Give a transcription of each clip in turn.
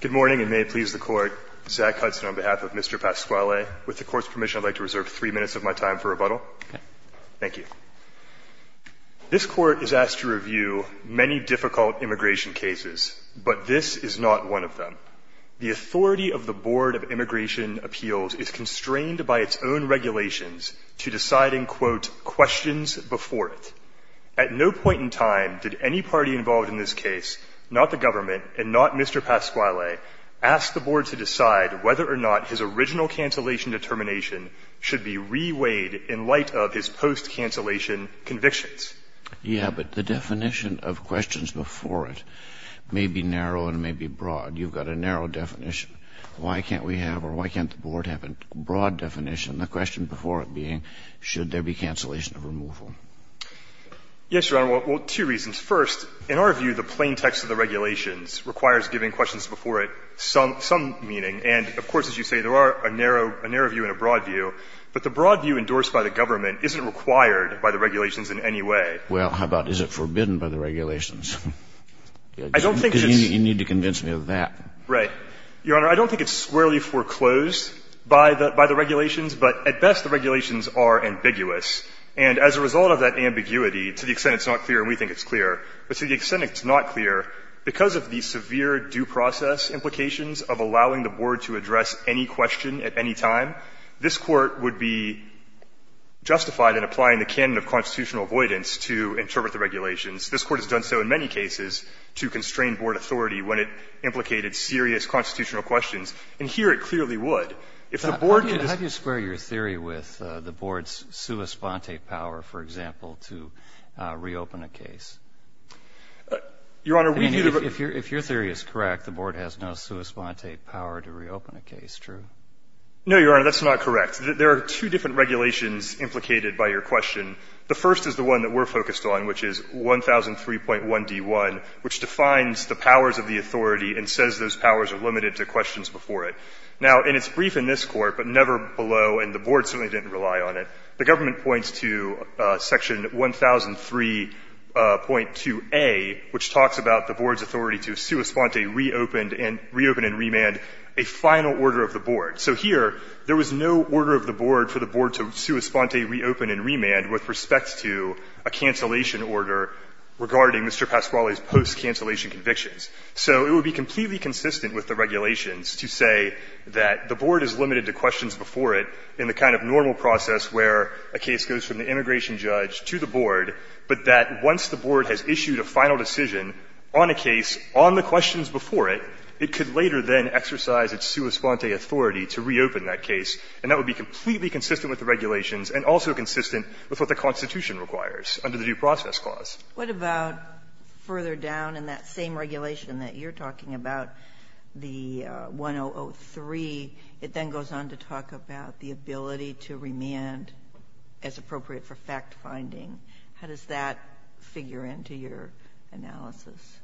Good morning, and may it please the Court. Zach Hudson on behalf of Mr. Pasquale. With the Court's permission, I'd like to reserve three minutes of my time for rebuttal. Thank you. This Court is asked to review many difficult immigration cases, but this is not one of them. The authority of the Board of Immigration Appeals is constrained by its own regulations to deciding, quote, questions before it. At no point in time did any party involved in this case, not the government and not Mr. Pasquale, ask the Board to decide whether or not his original cancellation determination should be reweighed in light of his post-cancellation convictions. Yeah, but the definition of questions before it may be narrow and may be broad. You've got a narrow definition. Why can't we have, or why can't the Board have a broad definition, the question before it being, should there be cancellation of removal? Yes, Your Honor, well, two reasons. First, in our view, the plain text of the regulations requires giving questions before it some meaning. And of course, as you say, there are a narrow view and a broad view, but the broad view endorsed by the government isn't required by the regulations in any way. Well, how about is it forbidden by the regulations? I don't think it's. You need to convince me of that. Right. Your Honor, I don't think it's squarely foreclosed by the regulations, but at best, the regulations are ambiguous. And as a result of that ambiguity, to the extent it's not clear and we think it's clear, but to the extent it's not clear, because of the severe due process implications of allowing the Board to address any question at any time, this Court would be justified in applying the canon of constitutional avoidance to interpret the regulations. This Court has done so in many cases to constrain Board authority when it implicated serious constitutional questions. And here it clearly would. If the Board could just. How do you square your theory with the Board's reopening a case? Your Honor, we view the. If your theory is correct, the Board has no sui sponte power to reopen a case, true? No, Your Honor, that's not correct. There are two different regulations implicated by your question. The first is the one that we're focused on, which is 1003.1D1, which defines the powers of the authority and says those powers are limited to questions before it. Now, and it's brief in this Court, but never below, and the Board certainly didn't rely on it. The government points to section 1003.2A, which talks about the Board's authority to sui sponte reopen and remand a final order of the Board. So here, there was no order of the Board for the Board to sui sponte reopen and remand with respect to a cancellation order regarding Mr. Pasquale's post-cancellation convictions. So it would be completely consistent with the regulations to say that the Board is limited to questions before it in the kind of normal process where a case goes from the immigration judge to the Board, but that once the Board has issued a final decision on a case on the questions before it, it could later then exercise its sui sponte authority to reopen that case. And that would be completely consistent with the regulations and also consistent with what the Constitution requires under the Due Process Clause. What about further down in that same regulation that you're talking about, the 1003, it then goes on to talk about the ability to remand as appropriate for fact-finding. How does that figure into your analysis?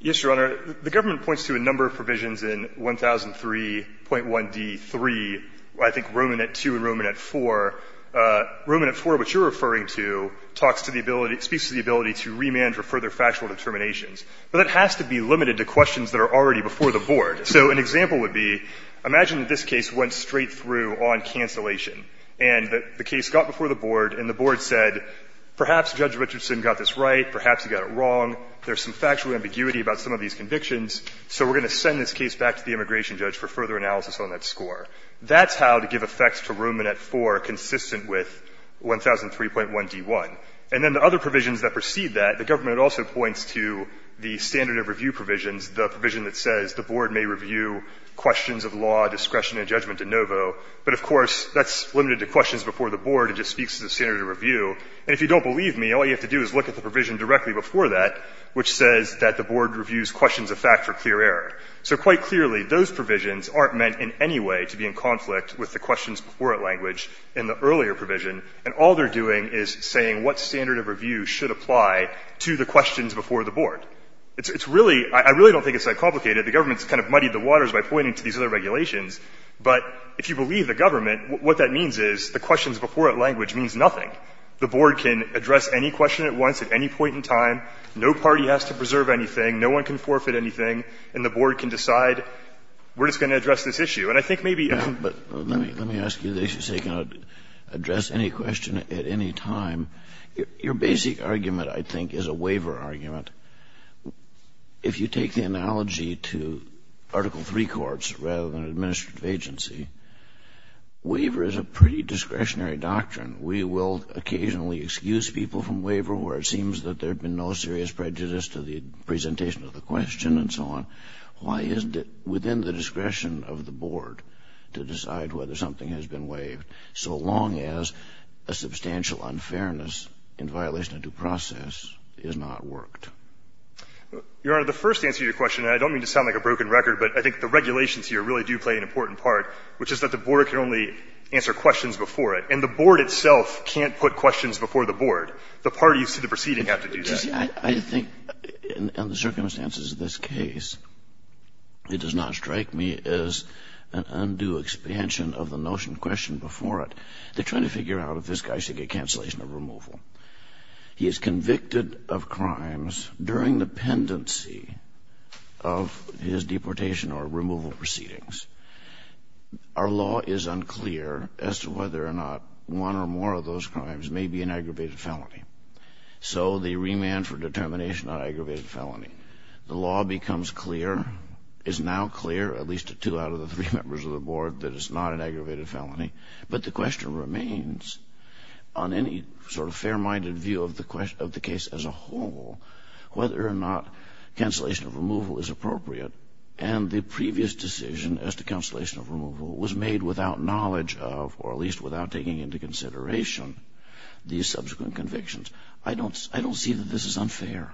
Yes, Your Honor. The government points to a number of provisions in 1003.1d.3, I think Roman at two and Roman at four. Roman at four, which you're referring to, talks to the ability, speaks to the ability to remand for further factual determinations. But it has to be limited to questions that are already before the Board. So an example would be, imagine that this case went straight through on cancellation and the case got before the Board and the Board said, perhaps Judge Richardson got this right, perhaps he got it wrong. There's some factual ambiguity about some of these convictions, so we're going to send this case back to the immigration judge for further analysis on that score. That's how to give effects to Roman at four, consistent with 1003.1d.1. And then the other provisions that precede that, the government also points to the standard of review provisions, the provision that says the Board may review questions of law, discretion, and judgment de novo. But of course, that's limited to questions before the Board, it just speaks to the standard of review. And if you don't believe me, all you have to do is look at the provision directly before that, which says that the Board reviews questions of fact for clear error. So quite clearly, those provisions aren't meant in any way to be in conflict with the questions before it language in the earlier provision. And all they're doing is saying what standard of review should apply to the questions before the Board. It's really, I really don't think it's that complicated. The government's kind of muddied the waters by pointing to these other regulations. But if you believe the government, what that means is the questions before it language means nothing. The Board can address any question at once at any point in time. No party has to preserve anything. No one can forfeit anything. And the Board can decide we're just going to address this issue. And I think maybe. But let me ask you, they should say can address any question at any time. Your basic argument, I think, is a waiver argument. If you take the analogy to Article III courts rather than administrative agency, waiver is a pretty discretionary doctrine. We will occasionally excuse people from waiver where it seems that there'd been no serious prejudice to the presentation of the question and so on. Why isn't it within the discretion of the Board to decide whether something has been waived so long as a substantial unfairness in violation of due process is not worked? Your Honor, the first answer to your question, and I don't mean to sound like a broken record, but I think the regulations here really do play an important part, which is that the Board can only answer questions before it. And the Board itself can't put questions before the Board. The parties to the proceeding have to do that. I think in the circumstances of this case, it does not strike me as an undue expansion of the notion questioned before it. They're trying to figure out if this guy should get cancellation or removal. He is convicted of crimes during the pendency of his deportation or removal proceedings. Our law is unclear as to whether or not one or more of those crimes may be an aggravated felony. So the remand for determination on aggravated felony. The law becomes clear, is now clear, at least to two out of the three members of the Board, that it's not an aggravated felony. But the question remains, on any sort of fair-minded view of the case as a whole, whether or not cancellation or removal is appropriate. And the previous decision as to cancellation or removal was made without knowledge of, or at least without taking into consideration, these subsequent convictions. I don't see that this is unfair.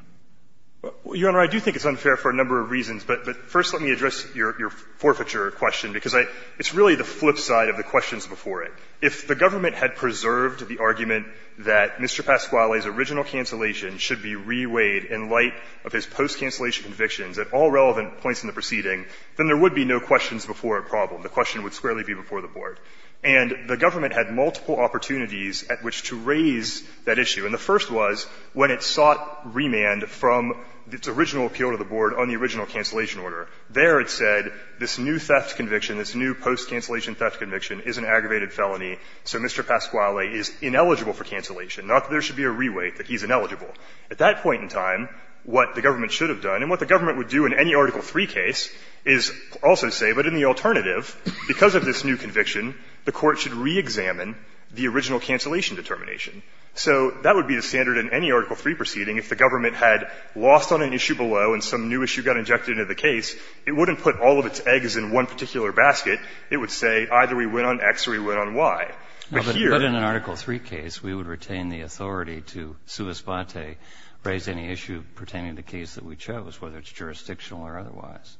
Your Honor, I do think it's unfair for a number of reasons, but first let me address your forfeiture question, because it's really the flip side of the questions before it. If the government had preserved the argument that Mr. Pasquale's original cancellation should be reweighed in light of his post-cancellation convictions at all relevant points in the proceeding, then there would be no questions before a problem. The question would squarely be before the Board. And the government had multiple opportunities at which to raise that issue. And the first was when it sought remand from its original appeal to the Board on the original cancellation order. There it said this new theft conviction, this new post-cancellation theft conviction is an aggravated felony, so Mr. Pasquale is ineligible for cancellation, not that there should be a reweight, that he's ineligible. At that point in time, what the government should have done, and what the government would do in any Article III case, is also say, but in the alternative, because of this new conviction, the Court should reexamine the original cancellation determination. So that would be the standard in any Article III proceeding if the government had lost on an issue below and some new issue got injected into the case, it wouldn't put all of its eggs in one particular basket. It would say either we went on X or we went on Y. But here we would retain the authority to sui spate, raise any issue pertaining to the case that we chose, whether it's jurisdictional or otherwise.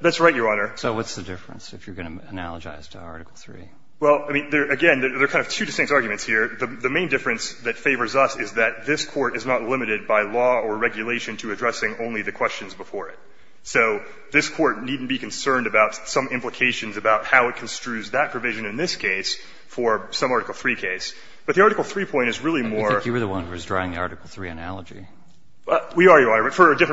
That's right, Your Honor. So what's the difference, if you're going to analogize to Article III? Well, I mean, again, there are kind of two distinct arguments here. The main difference that favors us is that this Court is not limited by law or regulation to addressing only the questions before it. So this Court needn't be concerned about some implications about how it construes that provision in this case for some Article III case. But the Article III point is really more of a different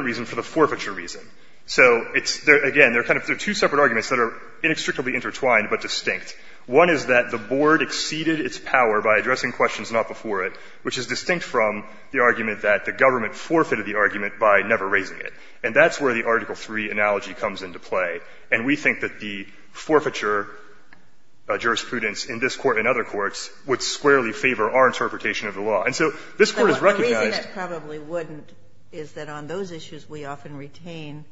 reason for the forfeiture reason. So it's, again, there are kind of two separate arguments that are inextricably intertwined but distinct. One is that the Board exceeded its power by addressing questions not before it, which is distinct from the argument that the government forfeited the argument by never raising it. And that's where the Article III analogy comes into play. And we think that the forfeiture jurisprudence in this Court and other courts would squarely favor our interpretation of the law. And so this Court has recognized. The reason it probably wouldn't is that on those issues we often retain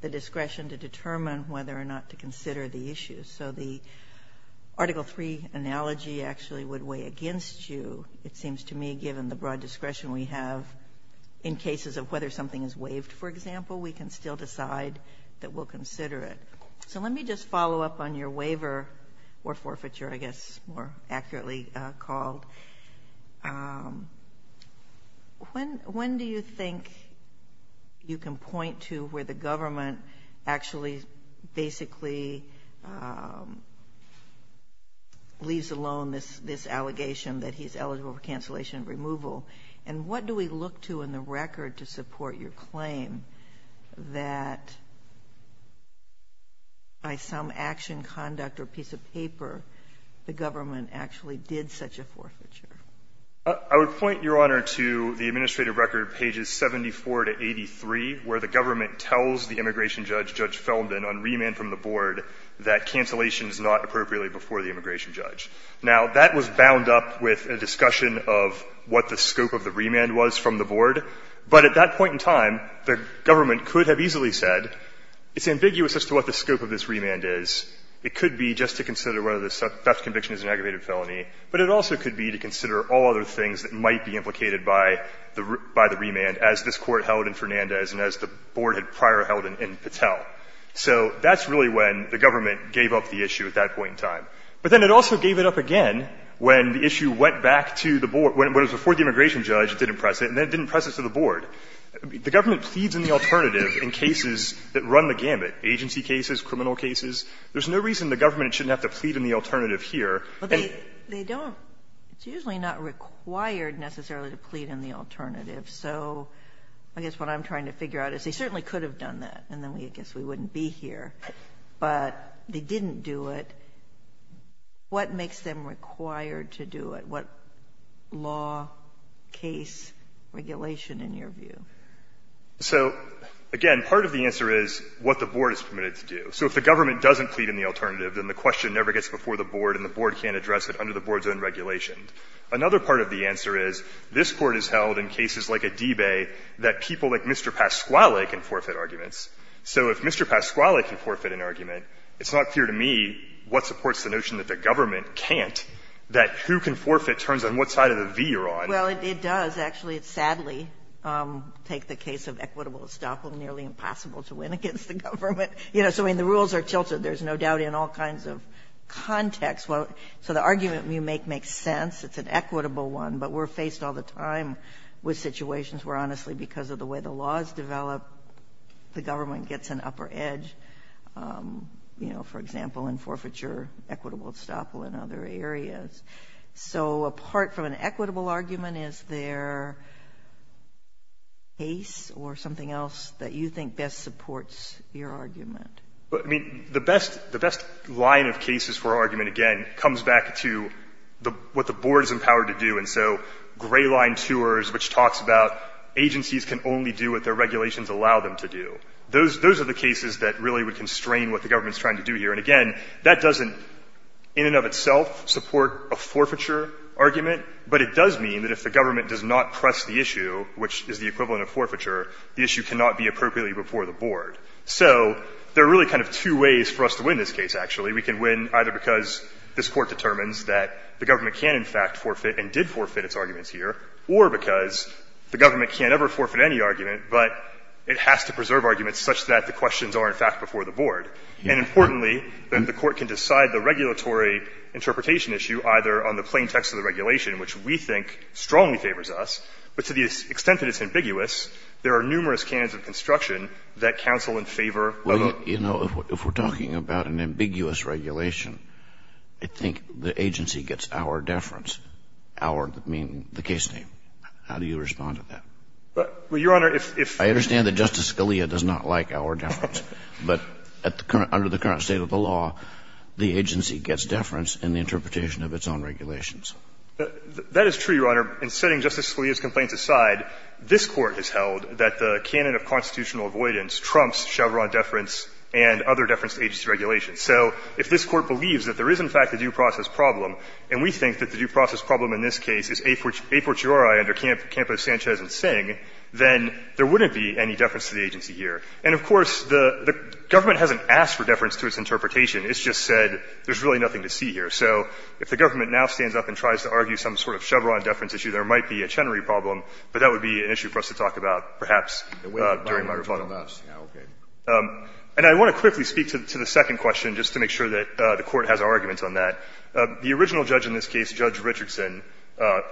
the discretion to determine whether or not to consider the issues. So the Article III analogy actually would weigh against you, it seems to me, given the broad discretion we have in cases of whether something is waived, for example. We can still decide that we'll consider it. So let me just follow up on your waiver or forfeiture, I guess, more accurately called. When do you think you can point to where the government actually basically leaves alone this allegation that he's eligible for cancellation and removal? And what do we look to in the record to support your claim that by some action, conduct, or piece of paper, the government actually did such a forfeiture? I would point, Your Honor, to the administrative record, pages 74 to 83, where the immigration judge. Now, that was bound up with a discussion of what the scope of the remand was from the Board. But at that point in time, the government could have easily said, it's ambiguous as to what the scope of this remand is. It could be just to consider whether the theft conviction is an aggravated felony, but it also could be to consider all other things that might be implicated by the remand as this Court held in Fernandez and as the Board had prior held in Patel. So that's really when the government gave up the issue at that point in time. But then it also gave it up again when the issue went back to the Board. When it was before the immigration judge, it didn't press it, and then it didn't press it to the Board. The government pleads in the alternative in cases that run the gamut, agency cases, criminal cases. There's no reason the government shouldn't have to plead in the alternative here. And they don't. It's usually not required necessarily to plead in the alternative. So I guess what I'm trying to figure out is they certainly could have done that, and then I guess we wouldn't be here, but they didn't do it. What makes them required to do it? What law, case, regulation, in your view? So, again, part of the answer is what the Board is permitted to do. So if the government doesn't plead in the alternative, then the question never gets before the Board and the Board can't address it under the Board's own regulation. Another part of the answer is this Court has held in cases like Adibe that people like Mr. Pasquale can forfeit arguments. So if Mr. Pasquale can forfeit an argument, it's not clear to me what supports the notion that the government can't, that who can forfeit turns on what side of the V you're on. Well, it does. Actually, it sadly takes the case of equitable estoppel nearly impossible to win against the government. You know, so, I mean, the rules are tilted, there's no doubt, in all kinds of contexts. So the argument you make makes sense, it's an equitable one, but we're faced all the time with situations where, honestly, because of the way the laws develop, the government gets an upper edge, you know, for example, in forfeiture, equitable estoppel, and other areas. So apart from an equitable argument, is there a case or something else that you think best supports your argument? I mean, the best line of cases for argument, again, comes back to what the Board is talking about, the gray line tours, which talks about agencies can only do what their regulations allow them to do. Those are the cases that really would constrain what the government's trying to do here. And again, that doesn't, in and of itself, support a forfeiture argument, but it does mean that if the government does not press the issue, which is the equivalent of forfeiture, the issue cannot be appropriately before the Board. So there are really kind of two ways for us to win this case, actually. One, because the government can't forfeit and did forfeit its arguments here, or because the government can't ever forfeit any argument, but it has to preserve arguments such that the questions are, in fact, before the Board. And importantly, the Court can decide the regulatory interpretation issue either on the plain text of the regulation, which we think strongly favors us, but to the extent that it's ambiguous, there are numerous canons of construction that counsel in favor of a law. Well, you know, if we're talking about an ambiguous regulation, I think the agency gets our deference, our, meaning the case name. How do you respond to that? Well, Your Honor, if you're saying that Justice Scalia does not like our deference, but under the current state of the law, the agency gets deference in the interpretation of its own regulations. That is true, Your Honor. In setting Justice Scalia's complaints aside, this Court has held that the canon of constitutional avoidance trumps Chevron deference and other deference agency regulations. So if this Court believes that there is, in fact, a due process problem, and we think that the due process problem in this case is a fortiori under Campo, Sanchez, and Singh, then there wouldn't be any deference to the agency here. And, of course, the government hasn't asked for deference to its interpretation. It's just said there's really nothing to see here. So if the government now stands up and tries to argue some sort of Chevron deference issue, there might be a Chenery problem, but that would be an issue for us to talk about perhaps during my rebuttal. And I want to quickly speak to the second question, just to make sure that the Court has arguments on that. The original judge in this case, Judge Richardson,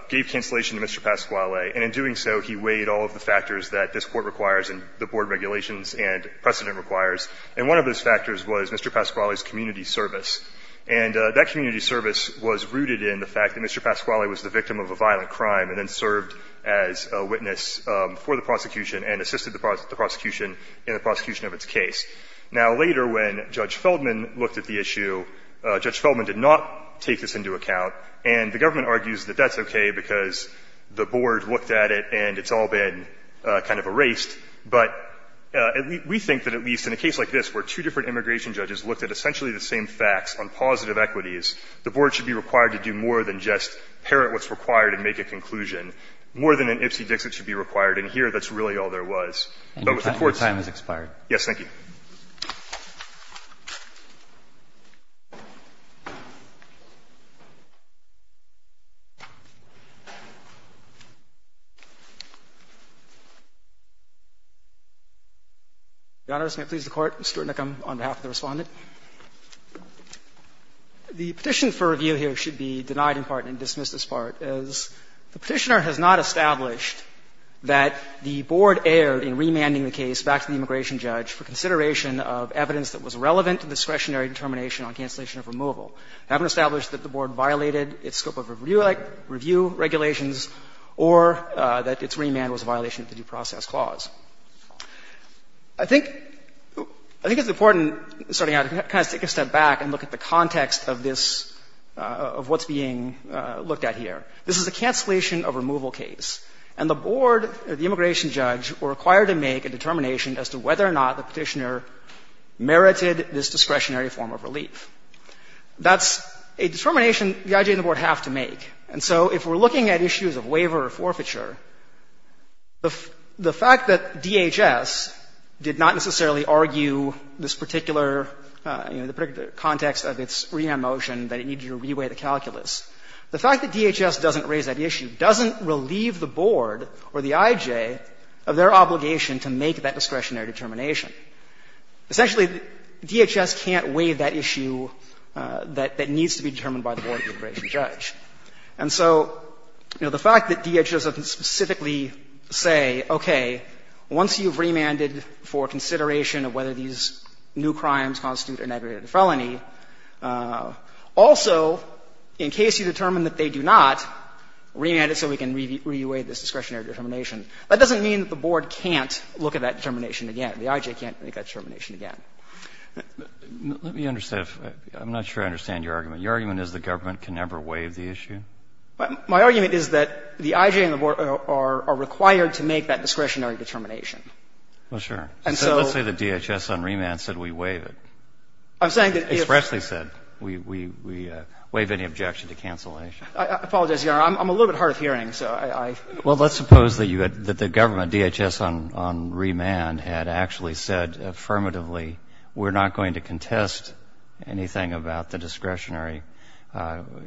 gave cancellation to Mr. Pasquale, and in doing so, he weighed all of the factors that this Court requires and the board regulations and precedent requires. And one of those factors was Mr. Pasquale's community service. And that community service was rooted in the fact that Mr. Pasquale was the victim of a violent crime and then served as a witness for the prosecution and assisted the prosecution in the prosecution of its case. Now, later, when Judge Feldman looked at the issue, Judge Feldman did not take this into account. And the government argues that that's okay because the board looked at it and it's all been kind of erased. But we think that at least in a case like this, where two different immigration judges looked at essentially the same facts on positive equities, the board should be required to do more than just parrot what's required and make a conclusion, more than an Ipsy-Dixit should be required. And here, that's really all there was. But with the Court's ‑‑ And your time has expired. Yes. Thank you. Roberts, may I please the Court? Mr. O'Connor, on behalf of the Respondent. The petition for review here should be denied in part and dismissed as part. The petitioner has not established that the board erred in remanding the case back to the immigration judge for consideration of evidence that was relevant to discretionary determination on cancellation of removal. They haven't established that the board violated its scope of review regulations or that its remand was a violation of the due process clause. I think it's important, starting out, to kind of take a step back and look at the This is a cancellation of removal case. And the board, the immigration judge, were required to make a determination as to whether or not the petitioner merited this discretionary form of relief. That's a determination the IG and the board have to make. And so if we're looking at issues of waiver or forfeiture, the fact that DHS did not necessarily argue this particular, you know, the particular context of its remand motion, that it needed to reweigh the calculus. The fact that DHS doesn't raise that issue doesn't relieve the board or the IJ of their obligation to make that discretionary determination. Essentially, DHS can't weigh that issue that needs to be determined by the board and the immigration judge. And so, you know, the fact that DHS doesn't specifically say, okay, once you've remanded for consideration of whether these new crimes constitute an aggravated felony, also, in case you determine that they do not, remand it so we can reweigh this discretionary determination, that doesn't mean that the board can't look at that determination again. The IJ can't make that determination again. Let me understand if — I'm not sure I understand your argument. Your argument is the government can never waive the issue? My argument is that the IJ and the board are required to make that discretionary determination. Well, sure. And so — Let's say the DHS on remand said we waive it. I'm saying that if — Expressly said we waive any objection to cancellation. I apologize, Your Honor. I'm a little bit hard of hearing, so I — Well, let's suppose that you had — that the government, DHS on remand, had actually said affirmatively, we're not going to contest anything about the discretionary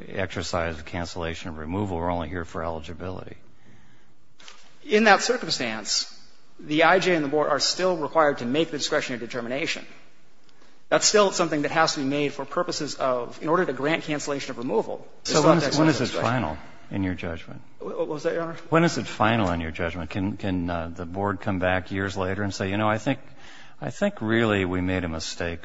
exercise of cancellation removal. We're only here for eligibility. In that circumstance, the IJ and the board are still required to make the discretionary determination. That's still something that has to be made for purposes of — in order to grant cancellation of removal. So when is it final in your judgment? Was that your honor? When is it final in your judgment? Can the board come back years later and say, you know, I think really we made a mistake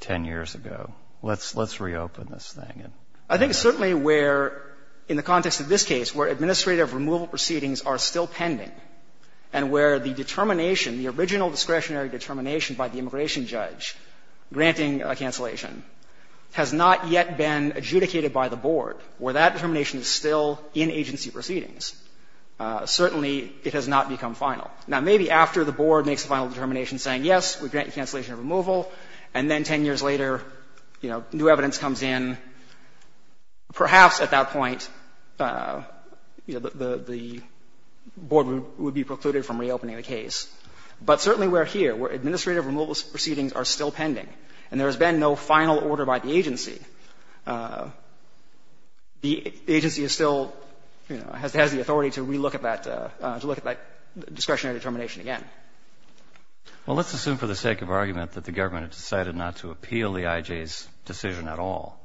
10 years ago. Let's reopen this thing. I think it's certainly where, in the context of this case, where administrative removal proceedings are still pending and where the determination, the original discretionary determination by the immigration judge granting a cancellation has not yet been adjudicated by the board, where that determination is still in agency proceedings, certainly it has not become final. Now, maybe after the board makes a final determination saying, yes, we grant you cancellation of removal, and then 10 years later, you know, new evidence comes in, perhaps at that point, you know, the board would be precluded from reopening the case. But certainly we're here, where administrative removal proceedings are still pending, and there has been no final order by the agency, the agency is still, you know, has the authority to relook at that, to look at that discretionary determination again. Well, let's assume for the sake of argument that the government had decided not to appeal the IJ's decision at all.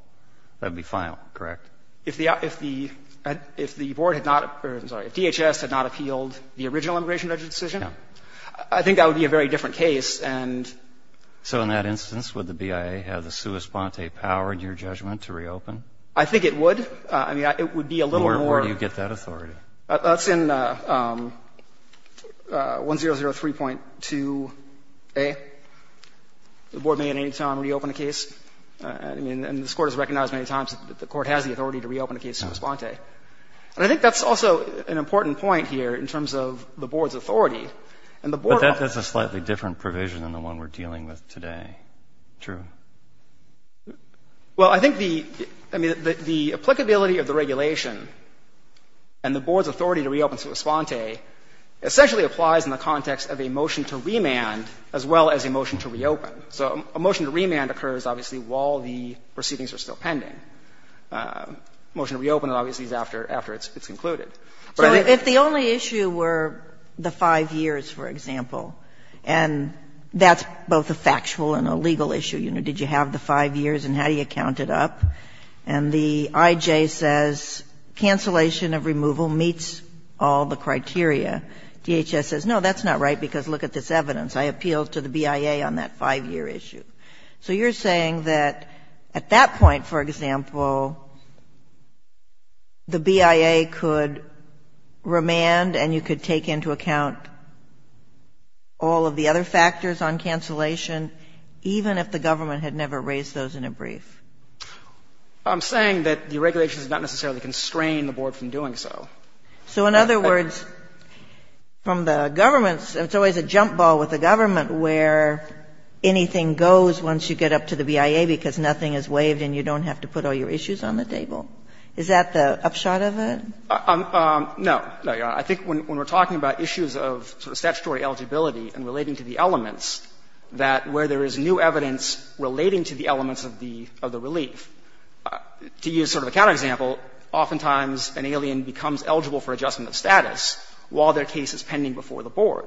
That would be final, correct? If the board had not — or, I'm sorry, if DHS had not appealed the original immigration judge's decision, I think that would be a very different case, and So in that instance, would the BIA have the sua sponte power in your judgment to reopen? I think it would. I mean, it would be a little more Where do you get that authority? That's in 1003.2a. The board may at any time reopen a case. I mean, and this Court has recognized many times that the Court has the authority to reopen a case sua sponte. And I think that's also an important point here in terms of the board's authority. And the board But that's a slightly different provision than the one we're dealing with today. True. Well, I think the — I mean, the applicability of the regulation and the board's authority to reopen sua sponte essentially applies in the context of a motion to remand as well as a motion to reopen. So a motion to remand occurs, obviously, while the proceedings are still pending. A motion to reopen, obviously, is after it's concluded. But I think So if the only issue were the 5 years, for example, and that's both a factual and a legal issue, you know, did you have the 5 years and how do you count it up? And the IJ says cancellation of removal meets all the criteria. DHS says, no, that's not right because look at this evidence. I appealed to the BIA on that 5-year issue. So you're saying that at that point, for example, the BIA could remand and you could take into account all of the other factors on cancellation, even if the government had never raised those in a brief? I'm saying that the regulations do not necessarily constrain the board from doing so. So in other words, from the government's — it's always a jump ball with the government where anything goes once you get up to the BIA because nothing is waived and you don't have to put all your issues on the table. Is that the upshot of it? No. No, Your Honor. I think when we're talking about issues of statutory eligibility and relating to the elements, that where there is new evidence relating to the elements of the relief, to use sort of a counter example, oftentimes an alien becomes eligible for adjustment of status while their case is pending before the board.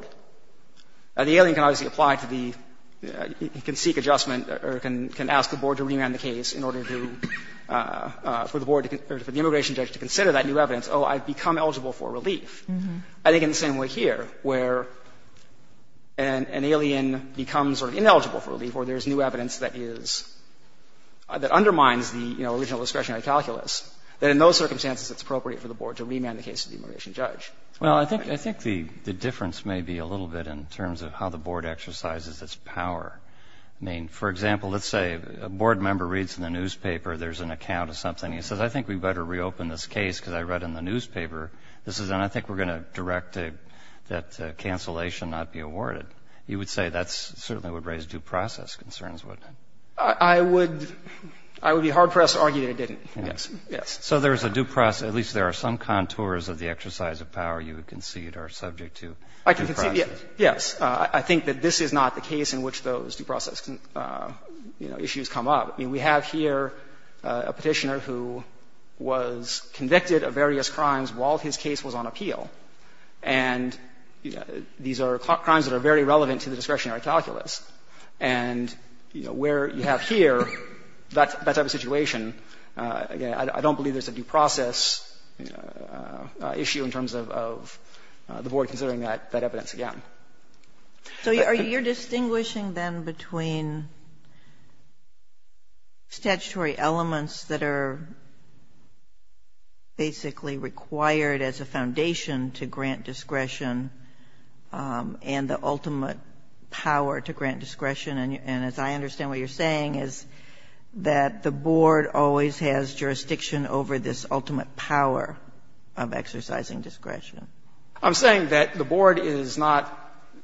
The alien can obviously apply to the — can seek adjustment or can ask the board to remand the case in order to — for the board to — or for the immigration judge to consider that new evidence, oh, I've become eligible for relief. I think in the same way here, where an alien becomes sort of ineligible for relief where there's new evidence that is — that undermines the, you know, original discretionary calculus, that in those circumstances it's appropriate for the board to remand the case to the immigration judge. Well, I think — I think the difference may be a little bit in terms of how the board exercises its power. I mean, for example, let's say a board member reads in the newspaper there's an account of something. He says, I think we'd better reopen this case because I read in the newspaper this is — and I think we're going to direct that cancellation not be awarded. You would say that certainly would raise due process concerns, wouldn't it? I would — I would be hard-pressed to argue that it didn't. Yes. Yes. So there's a due process — at least there are some contours of the exercise of the power you would concede are subject to due process. Yes. I think that this is not the case in which those due process, you know, issues come up. I mean, we have here a Petitioner who was convicted of various crimes while his case was on appeal. And these are crimes that are very relevant to the discretionary calculus. And, you know, where you have here that type of situation, again, I don't believe there's a due process issue in terms of the Board considering that evidence again. So you're distinguishing, then, between statutory elements that are basically required as a foundation to grant discretion and the ultimate power to grant discretion? And as I understand what you're saying is that the Board always has jurisdiction over this ultimate power of exercising discretion. I'm saying that the Board is not,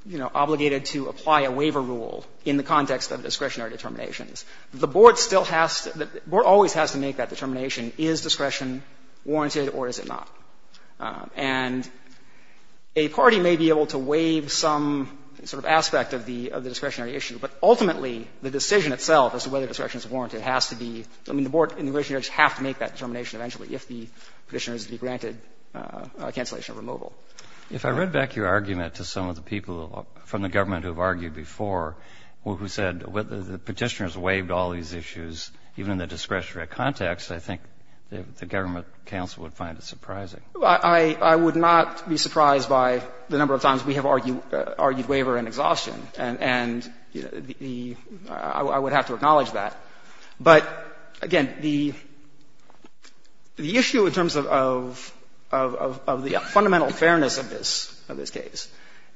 you know, obligated to apply a waiver rule in the context of discretionary determinations. The Board still has to — the Board always has to make that determination, is discretion warranted or is it not? And a party may be able to waive some sort of aspect of the — of the discretionary issue, but ultimately the decision itself as to whether discretion is warranted has to be — I mean, the Board and the Judiciary have to make that determination eventually if the Petitioner is to be granted cancellation of removal. If I read back your argument to some of the people from the government who have argued before who said the Petitioner's waived all these issues, even in the discretionary context, I think the government counsel would find it surprising. I would not be surprised by the number of times we have argued waiver and exhaustion. And the — I would have to acknowledge that. But again, the issue in terms of the fundamental fairness of this, of this case,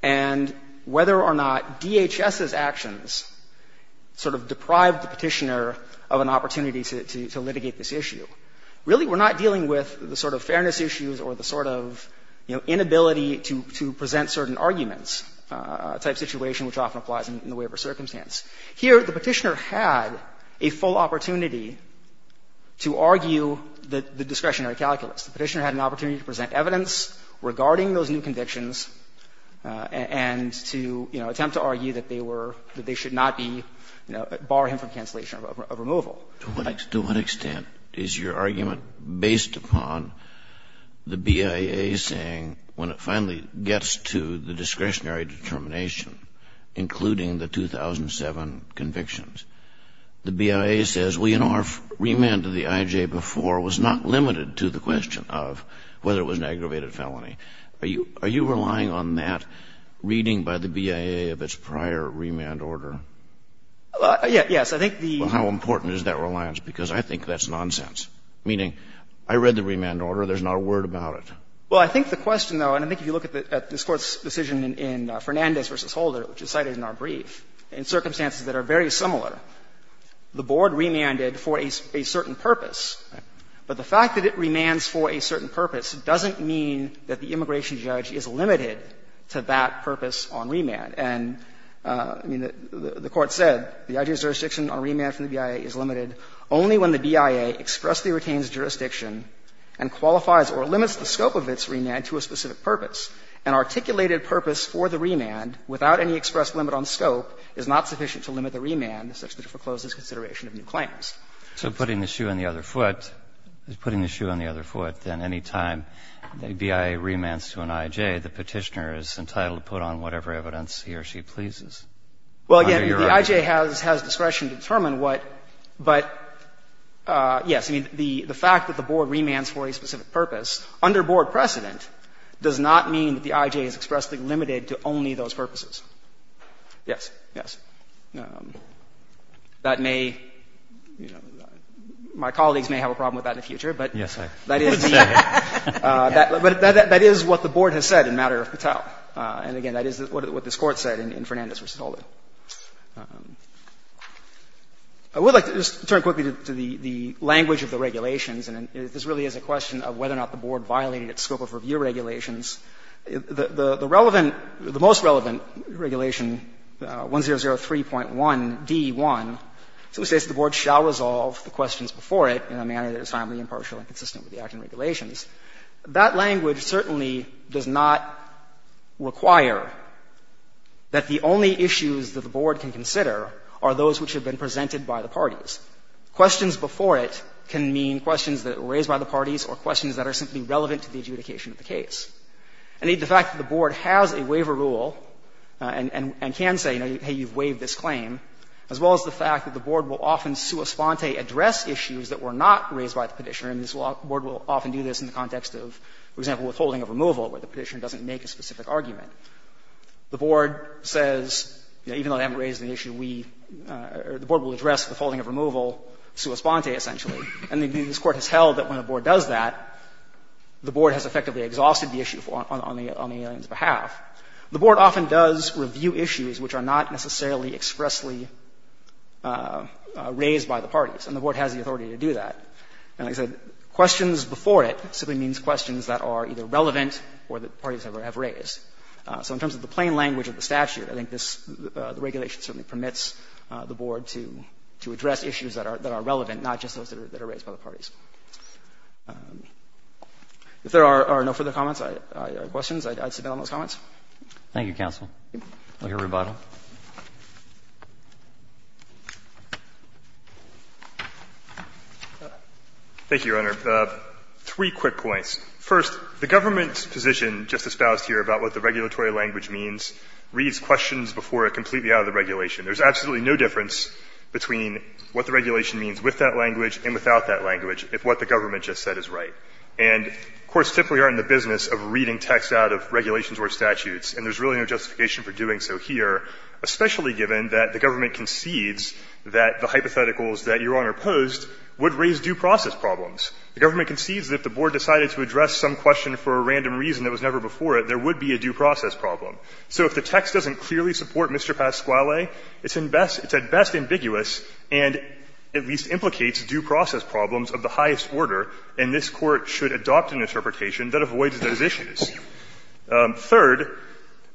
and whether or not DHS's actions sort of deprived the Petitioner of an opportunity to litigate this issue, really we're not dealing with the sort of fairness issues or the sort of, you know, inability to present certain arguments type situation which often applies in the waiver circumstance. Here, the Petitioner had a full opportunity to argue the discretionary calculus. The Petitioner had an opportunity to present evidence regarding those new convictions and to, you know, attempt to argue that they were — that they should not be, you know, bar him from cancellation of removal. Kennedy, to what extent is your argument based upon the BIA saying, when it finally gets to the discretionary determination, including the 2007 convictions, the BIA says, well, you know, our remand to the IJ before was not limited to the question of whether it was an aggravated felony. Are you relying on that reading by the BIA of its prior remand order? Yes. I think the — I think the question is, how important is that reliance, because I think that's nonsense, meaning, I read the remand order, there's not a word about it. Well, I think the question, though, and I think if you look at this Court's decision in Fernandez v. Holder, which is cited in our brief, in circumstances that are very similar, the board remanded for a certain purpose. But the fact that it remands for a certain purpose doesn't mean that the immigration judge is limited to that purpose on remand. And, I mean, the Court said, the IJ's jurisdiction on remand from the BIA is limited only when the BIA expressly retains jurisdiction and qualifies or limits the scope of its remand to a specific purpose. An articulated purpose for the remand without any express limit on scope is not sufficient to limit the remand such that it forecloses consideration of new claims. So putting the shoe on the other foot, putting the shoe on the other foot, then any time the BIA remands to an IJ, the Petitioner is entitled to put on whatever evidence he or she pleases. Well, again, the IJ has discretion to determine what, but, yes, I mean, the fact that the board remands for a specific purpose under board precedent does not mean that the IJ is expressly limited to only those purposes. Yes. Yes. That may, you know, my colleagues may have a problem with that in the future, but that is the ---- Yes, I would say. But that is what the board has said in matter of Patel. And, again, that is what this Court said in Fernandez v. Holder. I would like to just turn quickly to the language of the regulations. And this really is a question of whether or not the board violated its scope of review regulations. The relevant, the most relevant regulation, 1003.1d.1, so it states the board shall resolve the questions before it in a manner that is timely, impartial, and consistent with the acting regulations. That language certainly does not require that the only issues that the board can consider are those which have been presented by the parties. Questions before it can mean questions that were raised by the parties or questions that are simply relevant to the adjudication of the case. Indeed, the fact that the board has a waiver rule and can say, you know, hey, you've waived this claim, as well as the fact that the board will often sua sponte address issues that were not raised by the Petitioner, and the board will often do this in the context of, for example, withholding of removal, where the Petitioner doesn't make a specific argument. The board says, you know, even though they haven't raised an issue, we or the board will address withholding of removal sua sponte, essentially. And this Court has held that when a board does that, the board has effectively exhausted the issue on the alien's behalf. The board often does review issues which are not necessarily expressly raised by the authority to do that. And like I said, questions before it simply means questions that are either relevant or that parties have raised. So in terms of the plain language of the statute, I think this regulation certainly permits the board to address issues that are relevant, not just those that are raised by the parties. If there are no further comments or questions, I'd sit down on those comments. Roberts. Thank you, counsel. We'll hear rebuttal. Thank you, Your Honor. Three quick points. First, the government's position, Justice Bouste here, about what the regulatory language means reads questions before it completely out of the regulation. There's absolutely no difference between what the regulation means with that language and without that language if what the government just said is right. And courts typically aren't in the business of reading text out of regulations or statutes. And there's really no justification for doing so here, especially given that the government concedes that the hypotheticals that Your Honor posed would raise due process problems. The government concedes that if the board decided to address some question for a random reason that was never before it, there would be a due process problem. So if the text doesn't clearly support Mr. Pasquale, it's at best ambiguous and at least implicates due process problems of the highest order, and this Court should adopt an interpretation that avoids those issues. Third,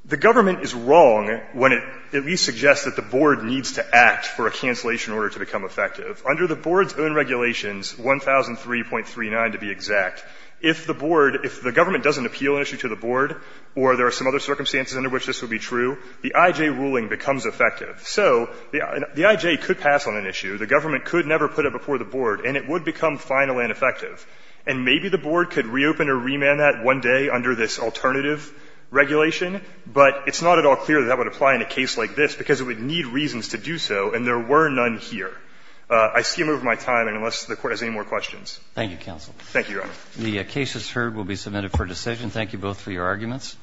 the government is wrong when it at least suggests that the board needs to act for a cancellation order to become effective. Under the board's own regulations, 1003.39 to be exact, if the board, if the government doesn't appeal an issue to the board or there are some other circumstances under which this would be true, the IJ ruling becomes effective. So the IJ could pass on an issue. The government could never put it before the board, and it would become final and effective. And maybe the board could reopen or remand that one day under this alternative regulation, but it's not at all clear that that would apply in a case like this because it would need reasons to do so, and there were none here. I skim over my time, and unless the Court has any more questions. Roberts. Thank you, counsel. Thank you, Your Honor. The case that's heard will be submitted for decision. Thank you both for your arguments.